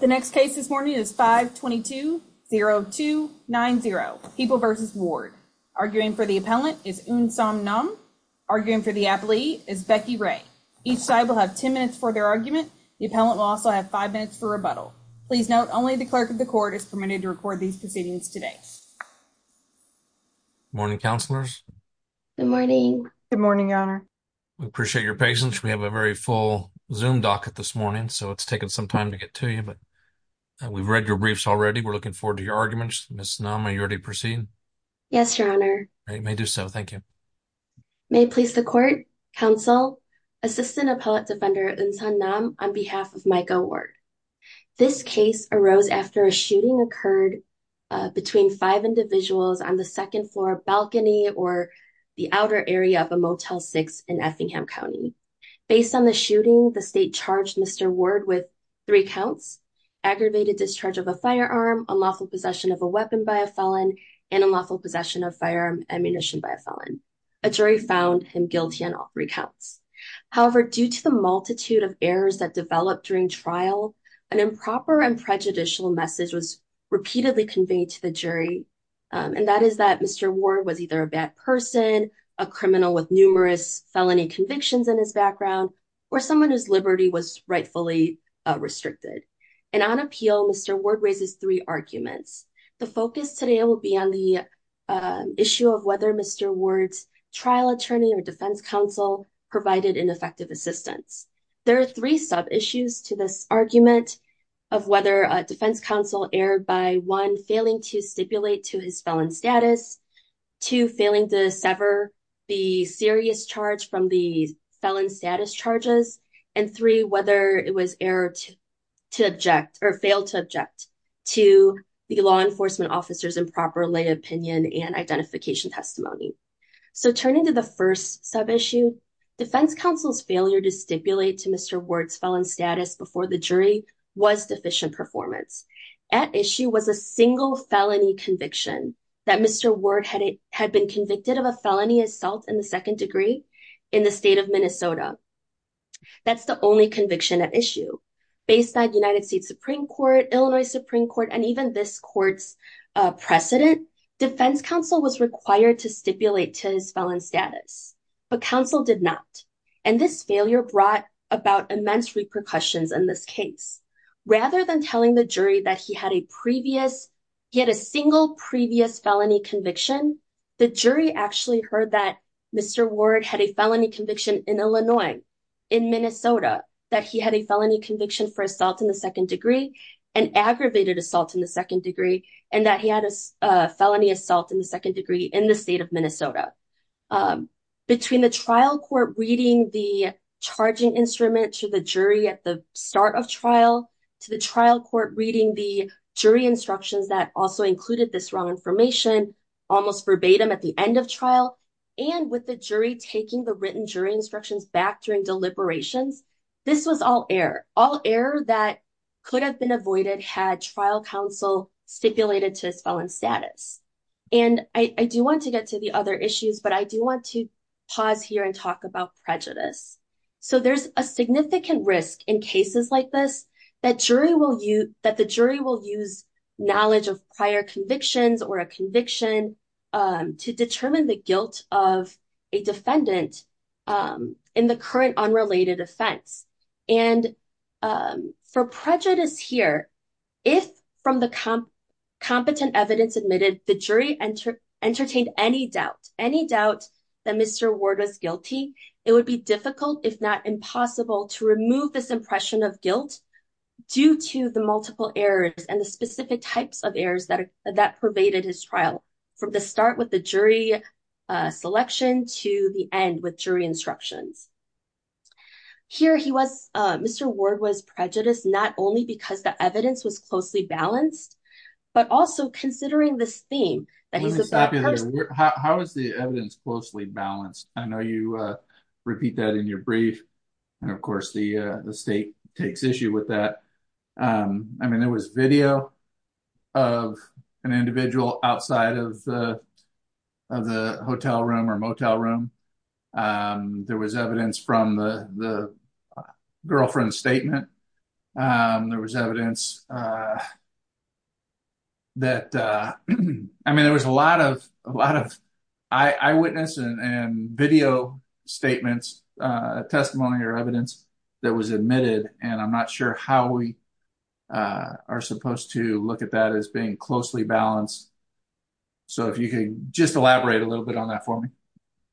The next case this morning is 5 22 0 2 9 0 people versus ward arguing for the appellant is in some numb arguing for the athlete is Becky Ray. Each side will have 10 minutes for their argument. The appellant will also have five minutes for rebuttal. Please note only the clerk of the court is permitted to record these proceedings today. Morning, counselors. Good morning. Good morning, Your Honor. We appreciate your patience. We have a very full zoom docket this morning, so it's taken some time to get to you. But we've read your briefs already. We're looking forward to your arguments. Miss Nama, you already proceed. Yes, Your Honor. You may do so. Thank you. May please the court council assistant appellate defender and son numb on behalf of Michael Ward. This case arose after a shooting occurred between five individuals on the second floor balcony or the outer area of a motel six in Effingham County. Based on the shooting, the state charged Mr Ward with three counts, aggravated discharge of a firearm, unlawful possession of a weapon by a felon and unlawful possession of firearm ammunition by a felon. A jury found him guilty on all recounts. However, due to the multitude of errors that developed during trial, an improper and prejudicial message was repeatedly conveyed to the jury. Um, and that is that Mr Ward was either a bad person, a criminal with numerous felony convictions in his background, or someone whose liberty was rightfully restricted. And on appeal, Mr Ward raises three arguments. The focus today will be on the issue of whether Mr Ward's trial attorney or defense counsel provided an effective assistance. There are three sub issues to this argument of whether a defense counsel erred by one failing to stipulate to his felon status to failing to sever the serious charge from the felon status charges and three whether it was error to object or failed to object to the law enforcement officers improper lay opinion and identification testimony. So turning to the first sub issue defense counsel's failure to stipulate to Mr Ward's felon status before the jury was deficient performance at issue was a single felony conviction that Mr Ward had had been convicted of a felony assault in the second degree in the state of Minnesota. That's the only conviction at issue. Based on United States Supreme Court, Illinois Supreme Court and even this court's precedent, defense counsel was required to stipulate to his felon status, but counsel did not. And this failure brought about immense repercussions in this case. Rather than telling the jury that he had a previous, he had a single previous felony conviction, the jury actually heard that Mr Ward had a felony conviction in Illinois, in Minnesota, that he had a felony conviction for assault in the second degree, an aggravated assault in the second degree, and that he had a felony assault in the second degree in the state of Minnesota. Between the trial court reading the charging instrument to the jury at the start of trial, to the trial court reading the jury instructions that also included this wrong information, almost verbatim at the end of trial, and with the jury taking the written jury instructions back during deliberations, this was all error, all error that could have been avoided had trial counsel stipulated to his felon status. And I do want to get to the other issues, but I do want to pause here and talk about prejudice. So there's a significant risk in cases like this, that jury will use that the jury will use knowledge of prior convictions or a conviction to determine the guilt of a defendant in the current unrelated offense. And for prejudice here, if from the competent evidence admitted, the jury entertained any doubt, any doubt that Mr Ward was guilty, it would be difficult, if not impossible, to remove this impression of that pervaded his trial from the start with the jury selection to the end with jury instructions. Here he was, Mr Ward was prejudiced not only because the evidence was closely balanced, but also considering this theme that he's a bad person. How is the evidence closely balanced? I know you repeat that in your brief, and of course the state takes issue with that. Um, I mean, there was video of an individual outside of the of the hotel room or motel room. Um, there was evidence from the girlfriend's statement. Um, there was evidence, uh, that, uh, I mean, there was a lot of a lot of eyewitness and video statements, testimony or evidence that was admitted. And I'm not sure how we, uh, are supposed to look at that as being closely balanced. So if you could just elaborate a little bit on that for me.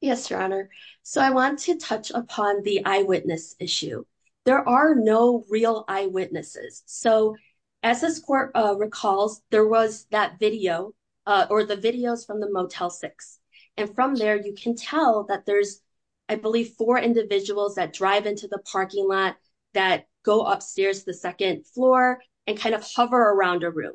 Yes, Your Honor. So I want to touch upon the eyewitness issue. There are no real eyewitnesses. So as this court recalls, there was that video or the videos from the motel six. And from there you can tell that there's, I believe, four individuals that drive into the parking lot that go upstairs to the second floor and kind of hover around a room.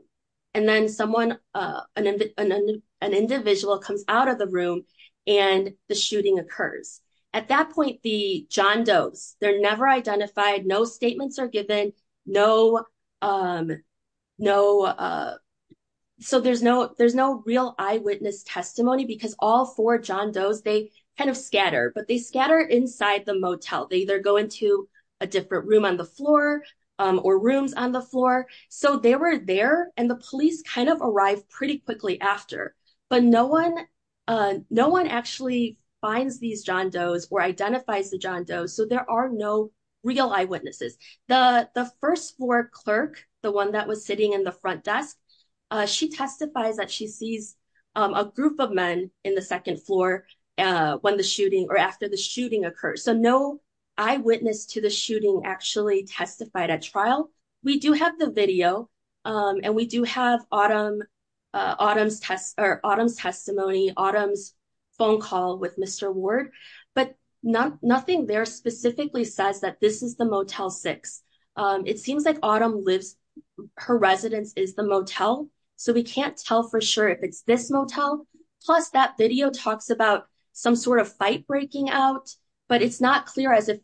And then someone, uh, an an individual comes out of the room and the shooting occurs. At that point, the John Doe's, they're never identified. No statements are given. No, um, no. Uh, so there's no, there's no real eyewitness testimony because all four John Doe's, they kind of scatter, but they scatter inside the motel. They either go into a different room on the floor, um, or rooms on the floor. So they were there and the police kind of arrived pretty quickly after. But no one, uh, no one actually finds these John Doe's or identifies the John Doe's. So there are no real eyewitnesses. The first floor clerk, the one that was sitting in the front desk, uh, she testifies that she sees, um, a group of men in the second floor, uh, when the shooting or after the shooting occurred. So no eyewitness to the shooting actually testified at trial. We do have the video, um, and we do have autumn, uh, autumns test or autumns testimony autumns phone call with Mr Ward. But nothing there specifically says that this is the motel six. Um, it seems like autumn lives. Her residence is the motel, so we can't tell for sure if it's this motel. Plus, that video talks about some sort of fight breaking out, but it's not clear as if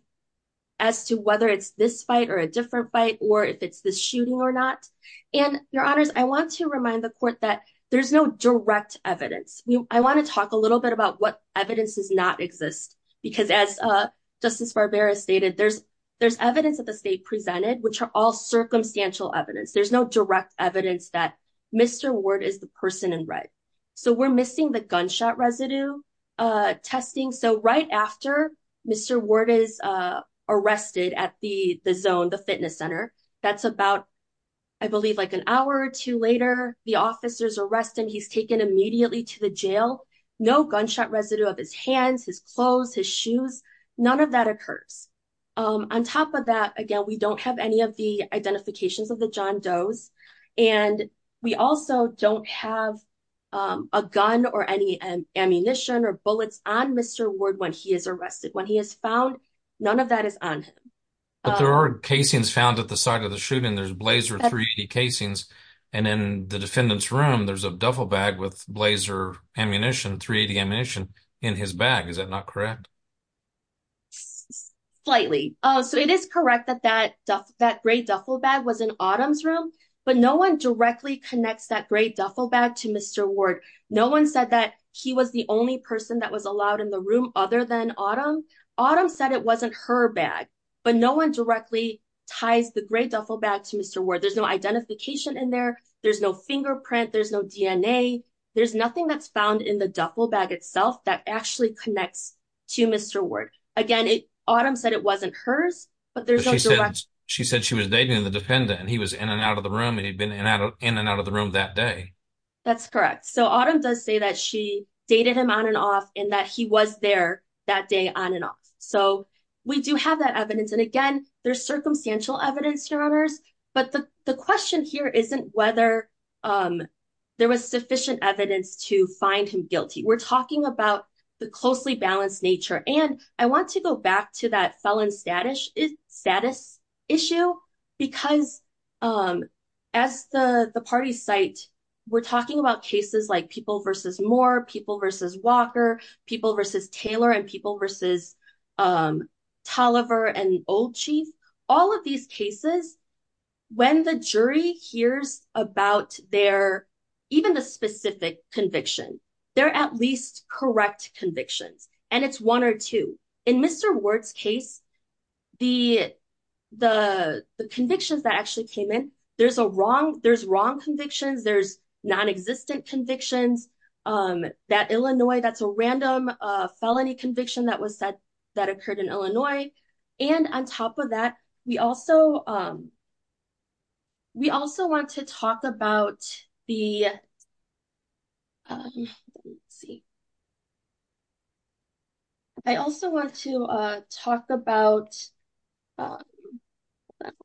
as to whether it's this fight or a different fight or if it's the shooting or not. And your honors, I want to remind the court that there's no direct evidence. I want to talk a little bit about what evidence does not exist because, as, uh, Justice Barbera stated, there's there's circumstantial evidence. There's no direct evidence that Mr Ward is the person in red. So we're missing the gunshot residue, uh, testing. So right after Mr Ward is, uh, arrested at the zone, the fitness center. That's about, I believe, like an hour or two later, the officers arrest him. He's taken immediately to the jail. No gunshot residue of his hands, his clothes, his identifications of the John Doe's. And we also don't have a gun or any ammunition or bullets on Mr Ward when he is arrested. When he is found, none of that is on him. But there are casings found at the site of the shooting. There's blazer three casings. And in the defendant's room, there's a duffel bag with blazer ammunition. 3 80 ammunition in his bag. Is that not correct? Slightly. So it is correct that that that great duffel bag was in autumn's room, but no one directly connects that great duffel bag to Mr Ward. No one said that he was the only person that was allowed in the room other than autumn. Autumn said it wasn't her bag, but no one directly ties the great duffel bag to Mr Ward. There's no identification in there. There's no fingerprint. There's no DNA. There's nothing that's found in the duffel bag itself that actually connects to Mr Ward. Again, autumn said it wasn't hers, but there's she said she was dating the dependent and he was in and out of the room and he'd been in and out of the room that day. That's correct. So autumn does say that she dated him on and off and that he was there that day on and off. So we do have that evidence. And again, there's circumstantial evidence, your honors. But the question here isn't whether, um, there was sufficient evidence to find him guilty. We're talking about the closely balanced nature. And I want to go back to that felon status is status issue because, um, as the party site, we're talking about cases like people versus more people versus Walker, people versus Taylor and people versus, um, Tolliver and old chief. All of these cases, when the jury hears about their even the specific conviction, they're at least correct convictions, and it's one or two. In Mr Ward's case, the the convictions that actually came in. There's a wrong. There's wrong convictions. There's non existent convictions. Um, that Illinois, that's a random felony conviction that was that occurred in Illinois. And on top of that, we also, um, we also want to talk about the see. I also want to talk about, um,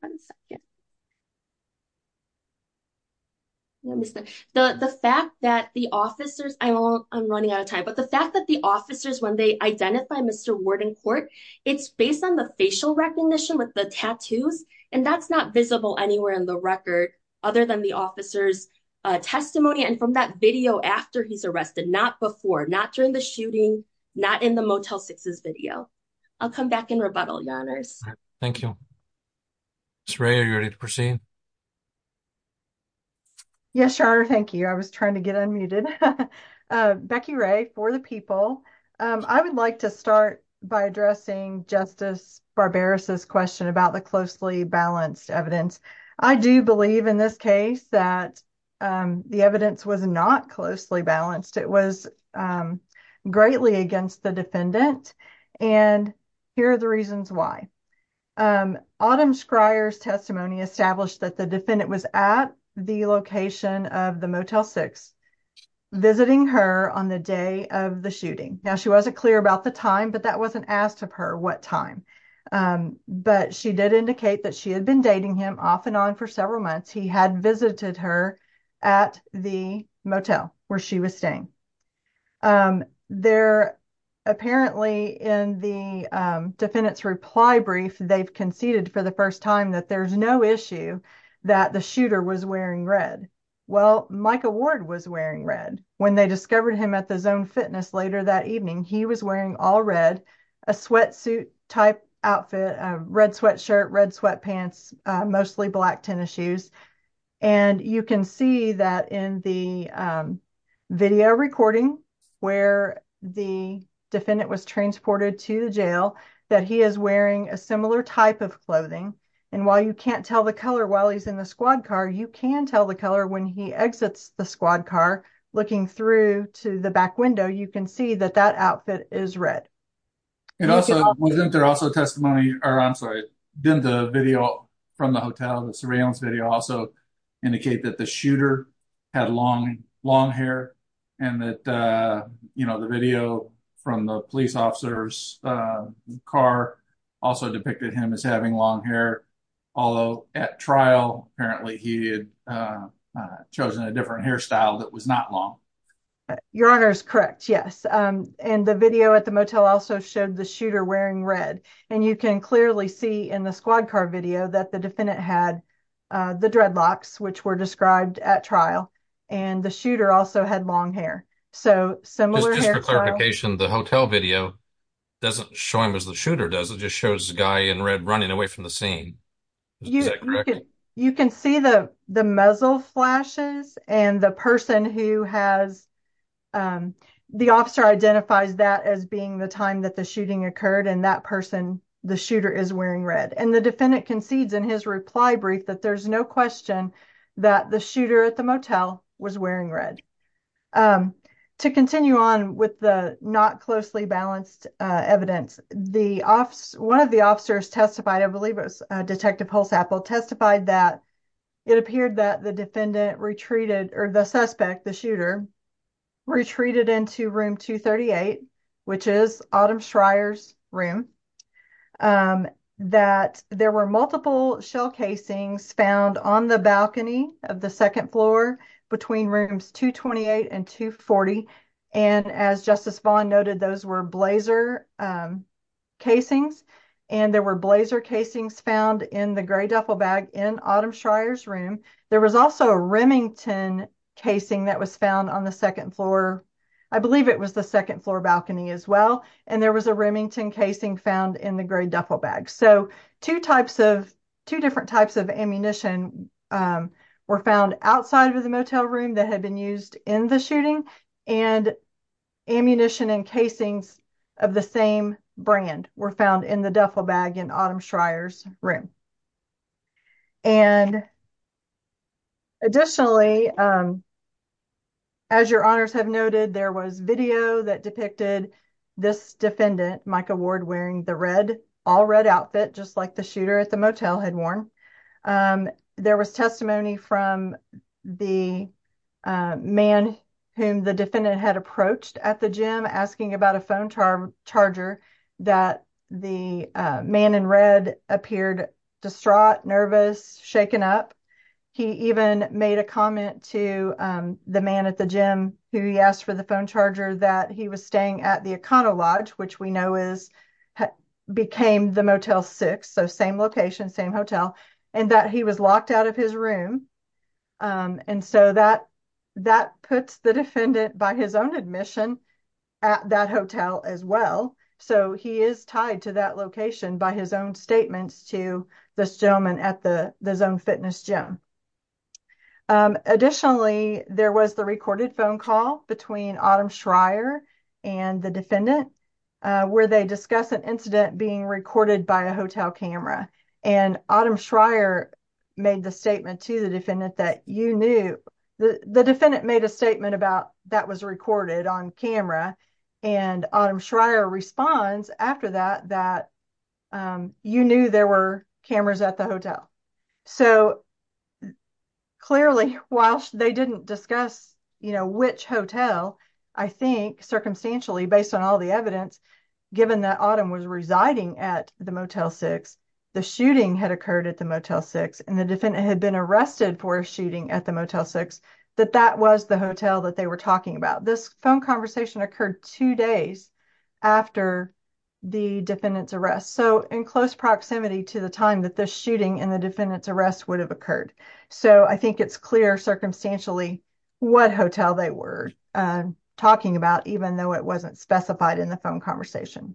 one second. Mr. The fact that the officers I'm running out of time, but the fact that the officers, when they identify Mr Ward in court, it's based on the facial recognition with the tattoos, and that's not visible anywhere in the record other than the officer's testimony. And from that video after he's arrested, not before, not during the shooting, not in the motel sixes video. I'll come back in rebuttal. Yoners. Thank you. It's rare. You're ready to proceed. Yes, sure. Thank you. I was trying to get unmuted. Uh, Becky Ray for the people. Um, I would like to start by addressing Justice Barbarossa's question about the closely balanced evidence. I do believe in this case that, um, the evidence was not closely balanced. It was, um, greatly against the defendant. And here are the reasons why, um, autumn Scryer's testimony established that the defendant was at the location of the motel six visiting her on the day of the shooting. Now, she wasn't clear about the time, but that wasn't asked of her what time. Um, but she did indicate that she had been dating him off and on for several months. He had visited her at the motel where she was staying. Um, they're apparently in the defendant's reply brief. They've conceded for the first time that there's no issue that the shooter was wearing red. Well, Micah Ward was wearing red when they discovered him at the zone fitness later that evening, he was wearing all red, a sweatsuit type outfit, a red sweatshirt, red sweatpants, uh, mostly black tennis shoes. And you can see that in the, um, video recording where the defendant was clothing. And while you can't tell the color while he's in the squad car, you can tell the color when he exits the squad car. Looking through to the back window, you can see that that outfit is red. It also wasn't there also testimony or I'm sorry, then the video from the hotel, the surveillance video also indicate that the shooter had long, long hair and that, uh, you know, the long hair, although at trial apparently he had chosen a different hairstyle that was not long. Your honor is correct. Yes. Um, and the video at the motel also showed the shooter wearing red and you can clearly see in the squad car video that the defendant had the dreadlocks which were described at trial and the shooter also had long hair. So similar clarification, the hotel video doesn't show him as the shooter does. It just shows the guy in red running away from the scene. You can see the muzzle flashes and the person who has, um, the officer identifies that as being the time that the shooting occurred and that person, the shooter is wearing red and the defendant concedes in his reply brief that there's no question that the shooter at the motel was wearing red. Um, to continue on with the not closely balanced evidence, the office, one of the officers testified, I believe it was Detective Pulse Apple, testified that it appeared that the defendant retreated or the suspect, the shooter retreated into room 238, which is Autumn Shryer's room, um, that there were multiple shell casings found on the balcony of the second floor between rooms 228 and 240. And as Justice Vaughn noted, those were blazer casings and there were blazer casings found in the gray duffel bag in Autumn Shryer's room. There was also a Remington casing that was found on the second floor, I believe it was the second floor balcony as well, and there was a Remington casing found in the gray duffel bag. So two types of, two different types of ammunition were found outside of the the same brand were found in the duffel bag in Autumn Shryer's room. And additionally, as your honors have noted, there was video that depicted this defendant, Micah Ward, wearing the red, all red outfit just like the shooter at the motel had worn. There was testimony from the man whom the defendant had approached at the gym asking about a phone charger that the man in red appeared distraught, nervous, shaken up. He even made a comment to the man at the gym who he asked for the phone charger that he was staying at the Econo Lodge, which we know is, became the Motel 6, so same location, same hotel, and that he was admission at that hotel as well. So he is tied to that location by his own statements to this gentleman at the Zone Fitness Gym. Additionally, there was the recorded phone call between Autumn Shryer and the defendant where they discuss an incident being recorded by a hotel camera, and Autumn Shryer made the statement to the defendant that you knew, the defendant made a statement about that was recorded on camera, and Autumn Shryer responds after that that you knew there were cameras at the hotel. So clearly, whilst they didn't discuss, you know, which hotel, I think, circumstantially, based on all the evidence, given that Autumn was residing at the Motel 6, the shooting had occurred at the Motel 6, and the defendant had been arrested for a shooting at the Motel 6. So I think it's clear what hotel they were talking about. This phone conversation occurred two days after the defendant's arrest, so in close proximity to the time that this shooting and the defendant's arrest would have occurred. So I think it's clear, circumstantially, what hotel they were talking about, even though it wasn't specified in the phone conversation.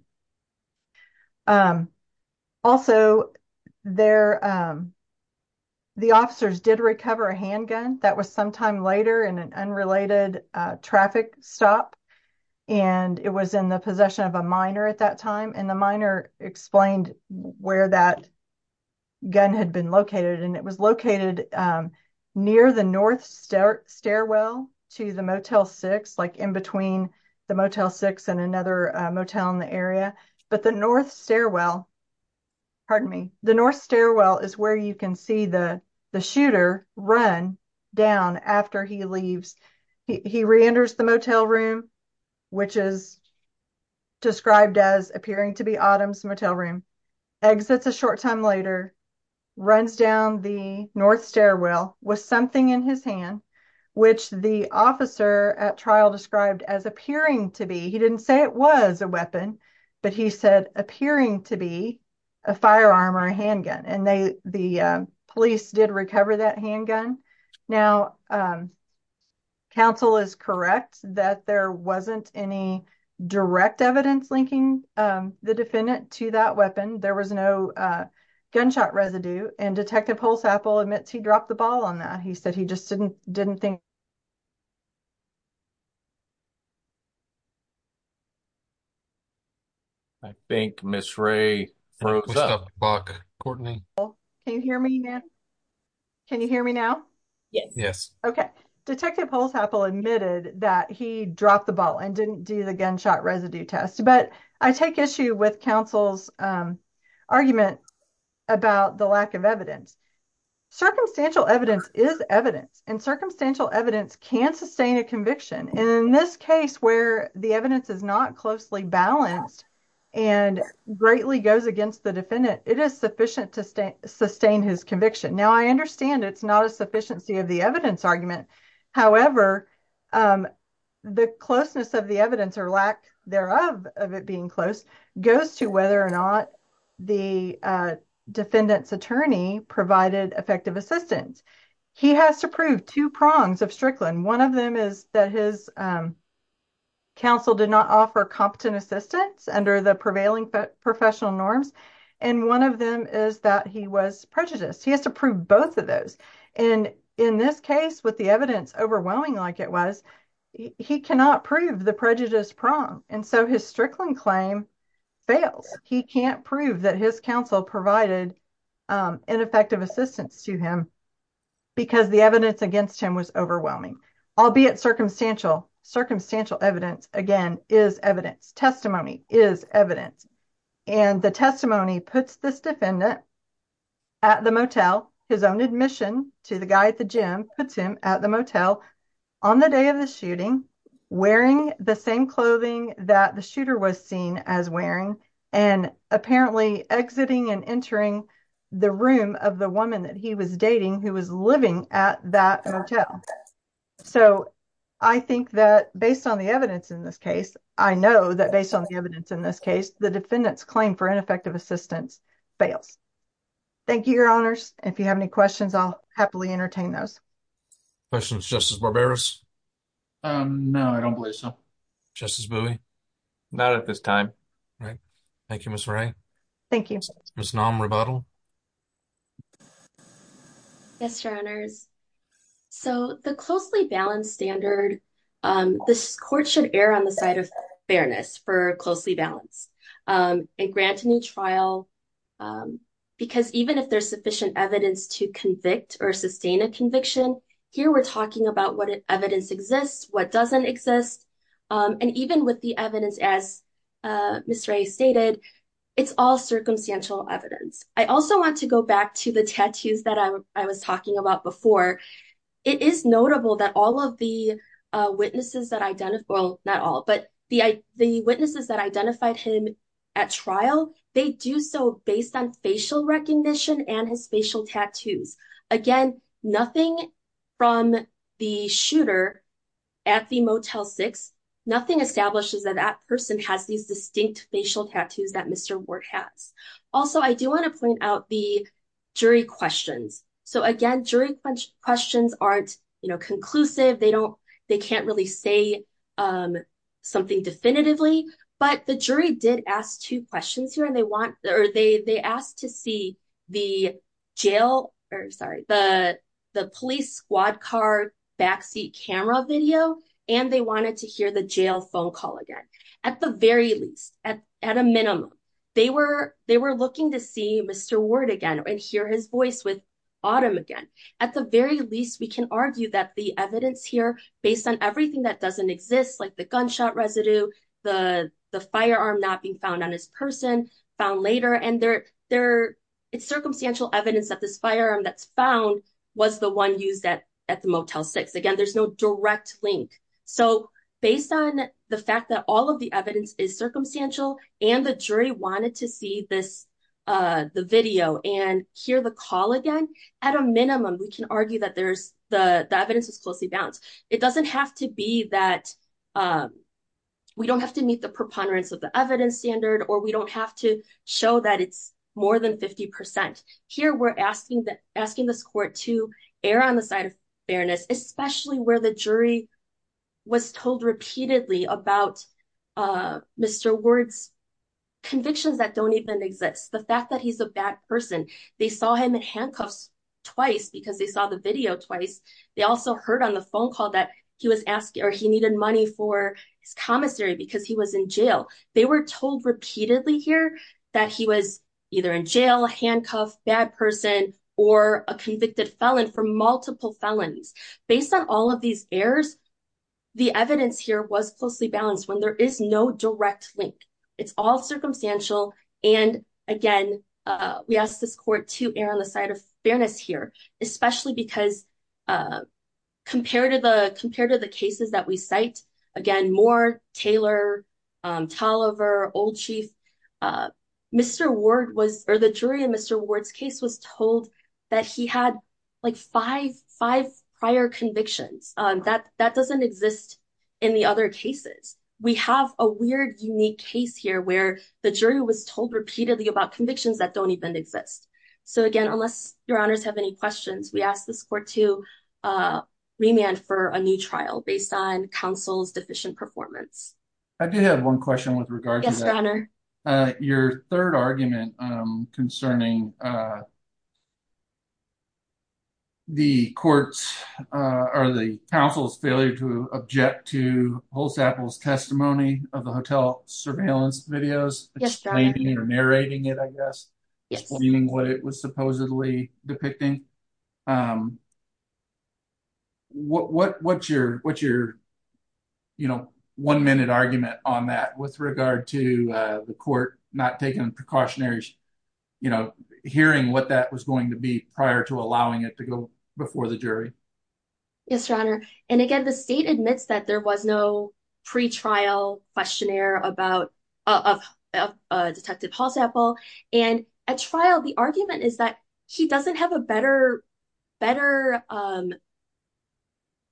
Also, there, the officers did recover a handgun that was sometime later in an unrelated traffic stop, and it was in the possession of a minor at that time, and the minor explained where that gun had been located, and it was located near the north stairwell to the Motel 6, like in between the Motel 6 and another motel in the area, but the north stairwell is where you can see the shooter run down after he leaves. He reenters the motel room, which is described as appearing to be Autumn's motel room, exits a short time later, runs down the north stairwell with something in his hand, which the officer at trial described as appearing to be, he didn't say it was a handgun, and they, the police did recover that handgun. Now, counsel is correct that there wasn't any direct evidence linking the defendant to that weapon. There was no gunshot residue, and Detective Holzapfel admits he dropped the ball on that. He said he just didn't think. I think Ms. Ray froze up. Can you hear me now? Yes. Yes. Okay. Detective Holzapfel admitted that he dropped the ball and didn't do the gunshot residue test, but I take issue with counsel's argument about the lack of evidence can sustain a conviction. In this case where the evidence is not closely balanced and greatly goes against the defendant, it is sufficient to sustain his conviction. Now, I understand it's not a sufficiency of the evidence argument. However, the closeness of the evidence or lack thereof of it being close goes to whether or not the defendant's attorney provided effective assistance. He has to prongs of Strickland. One of them is that his counsel did not offer competent assistance under the prevailing professional norms, and one of them is that he was prejudiced. He has to prove both of those, and in this case with the evidence overwhelming like it was, he cannot prove the prejudice prong, and so his Strickland claim fails. He can't prove that his counsel provided ineffective assistance to him because the evidence against him was overwhelming, albeit circumstantial. Circumstantial evidence, again, is evidence. Testimony is evidence, and the testimony puts this defendant at the motel. His own admission to the guy at the gym puts him at the motel on the day of the shooting wearing the same clothing that the shooter was seen as wearing and apparently exiting and entering the room of the woman that he was dating who was living at that motel. So, I think that based on the evidence in this case, I know that based on the evidence in this case, the defendant's claim for ineffective assistance fails. Thank you, your honors. If you have any questions, I'll happily entertain those questions. Justice Barberis? No, I don't believe so. Justice Bowie? Not at this time. All right. Thank you, Ms. Wray. Thank you. Ms. Nam Rabatel? Yes, your honors. So, the closely balanced standard, this court should err on the side of fairness for closely balanced and grant a new trial because even if there's sufficient evidence to convict or sustain a conviction, here we're talking about what evidence exists, what doesn't exist. And even with the evidence, as Ms. Wray stated, it's all circumstantial evidence. I also want to go back to the tattoos that I was talking about before. It is notable that all of the witnesses that identified, well, not all, but the witnesses that identified him at trial, they do so based on facial recognition and his facial tattoos. Again, nothing from the shooter at the Motel 6, nothing establishes that that person has these distinct facial tattoos that Mr. Ward has. Also, I do want to point out the jury questions. So, again, jury questions aren't, you know, conclusive. They can't really say something definitively, but the jury did ask two questions here, and they want, or they asked to see the jail, or sorry, the police squad car backseat camera video, and they wanted to hear the jail phone call again. At the very least, at a minimum, they were looking to see Mr. Ward again and hear his voice with Autumn again. At the very least, we can argue that the evidence here, based on everything that doesn't exist, like the gunshot residue, the firearm not being found on this person, found later, and it's circumstantial evidence that this firearm that's found was the one used at the Motel 6. Again, there's no direct link. So, based on the fact that all of the evidence is circumstantial, and the jury wanted to see the video and hear the call again, at a minimum, it doesn't have to be that we don't have to meet the preponderance of the evidence standard, or we don't have to show that it's more than 50%. Here, we're asking this court to err on the side of fairness, especially where the jury was told repeatedly about Mr. Ward's convictions that don't even exist. The fact that he's a bad person, they saw him in handcuffs twice because they saw the video twice. They also heard on the phone call that he was asking or he needed money for his commissary because he was in jail. They were told repeatedly here that he was either in jail, handcuffed, bad person, or a convicted felon for multiple felons. Based on all of these errors, the evidence here was closely balanced when there is no direct link. It's all circumstantial, and again, we ask this court to err on the side of fairness here, especially because compared to the cases that we cite, again, Moore, Taylor, Tolliver, Old Chief, Mr. Ward was, or the jury in Mr. Ward's case was told that he had like five prior convictions. That doesn't exist in the other cases. We have a weird, unique case here where the jury was repeatedly about convictions that don't even exist. So again, unless your honors have any questions, we ask this court to remand for a new trial based on counsel's deficient performance. I do have one question with regard to that. Yes, your honor. Your third argument concerning the court's, or the counsel's, failure to object to Holzapfel's testimony of the hotel surveillance videos, explaining or narrating it, I guess, explaining what it was supposedly depicting. What's your one-minute argument on that with regard to the court not taking precautionary, you know, hearing what that was going to be prior to allowing it to go before the jury? Yes, your honor, and again, the state admits that there was no pre-trial questionnaire about Detective Holzapfel. And at trial, the argument is that he doesn't have a better, better, I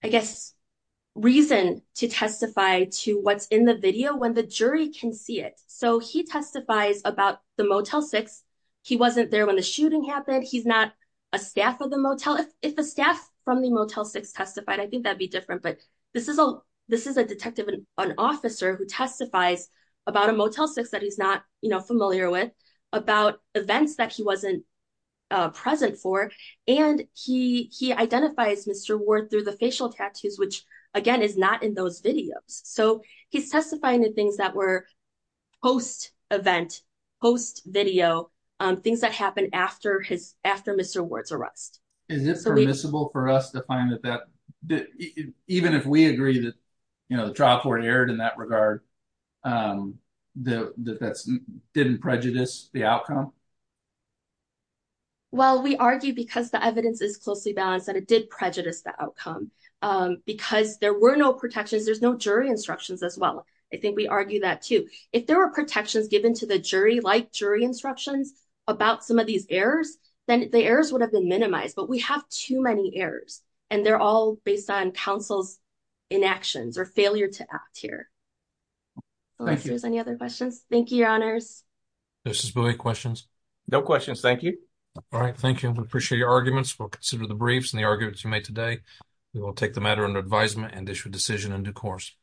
guess, reason to testify to what's in the video when the jury can see it. So he testifies about the Motel 6. He wasn't there when the shooting happened. He's not a staff of the Motel. If the staff from the Motel 6 testified, I think that'd be different. But this is a detective, an officer, who testifies about a Motel 6 that he's not, you know, familiar with, about events that he wasn't present for. And he identifies Mr. Ward through the facial tattoos, which, again, is not in those videos. So he's testifying to things that were post-event, post-video, things that happened after his, after Mr. Ward's arrest. Is it permissible for us to find that that, even if we agree that, you know, the trial court erred in that regard, that that's, didn't prejudice the outcome? Well, we argue because the evidence is closely balanced that it did prejudice the outcome. Because there were no protections, there's no jury instructions as well. I think we argue that too. If there were protections given to the jury, like jury instructions, about some of these errors, then the errors would have been minimized. But we have too many errors, and they're all based on counsel's inactions or failure to act here. Unless there's any other questions. Thank you, Your Honors. Justice Bowie, questions? No questions. Thank you. All right. Thank you. We appreciate your arguments. We'll consider the briefs and the arguments you made today. We will take the matter under advisement and issue a decision in due course.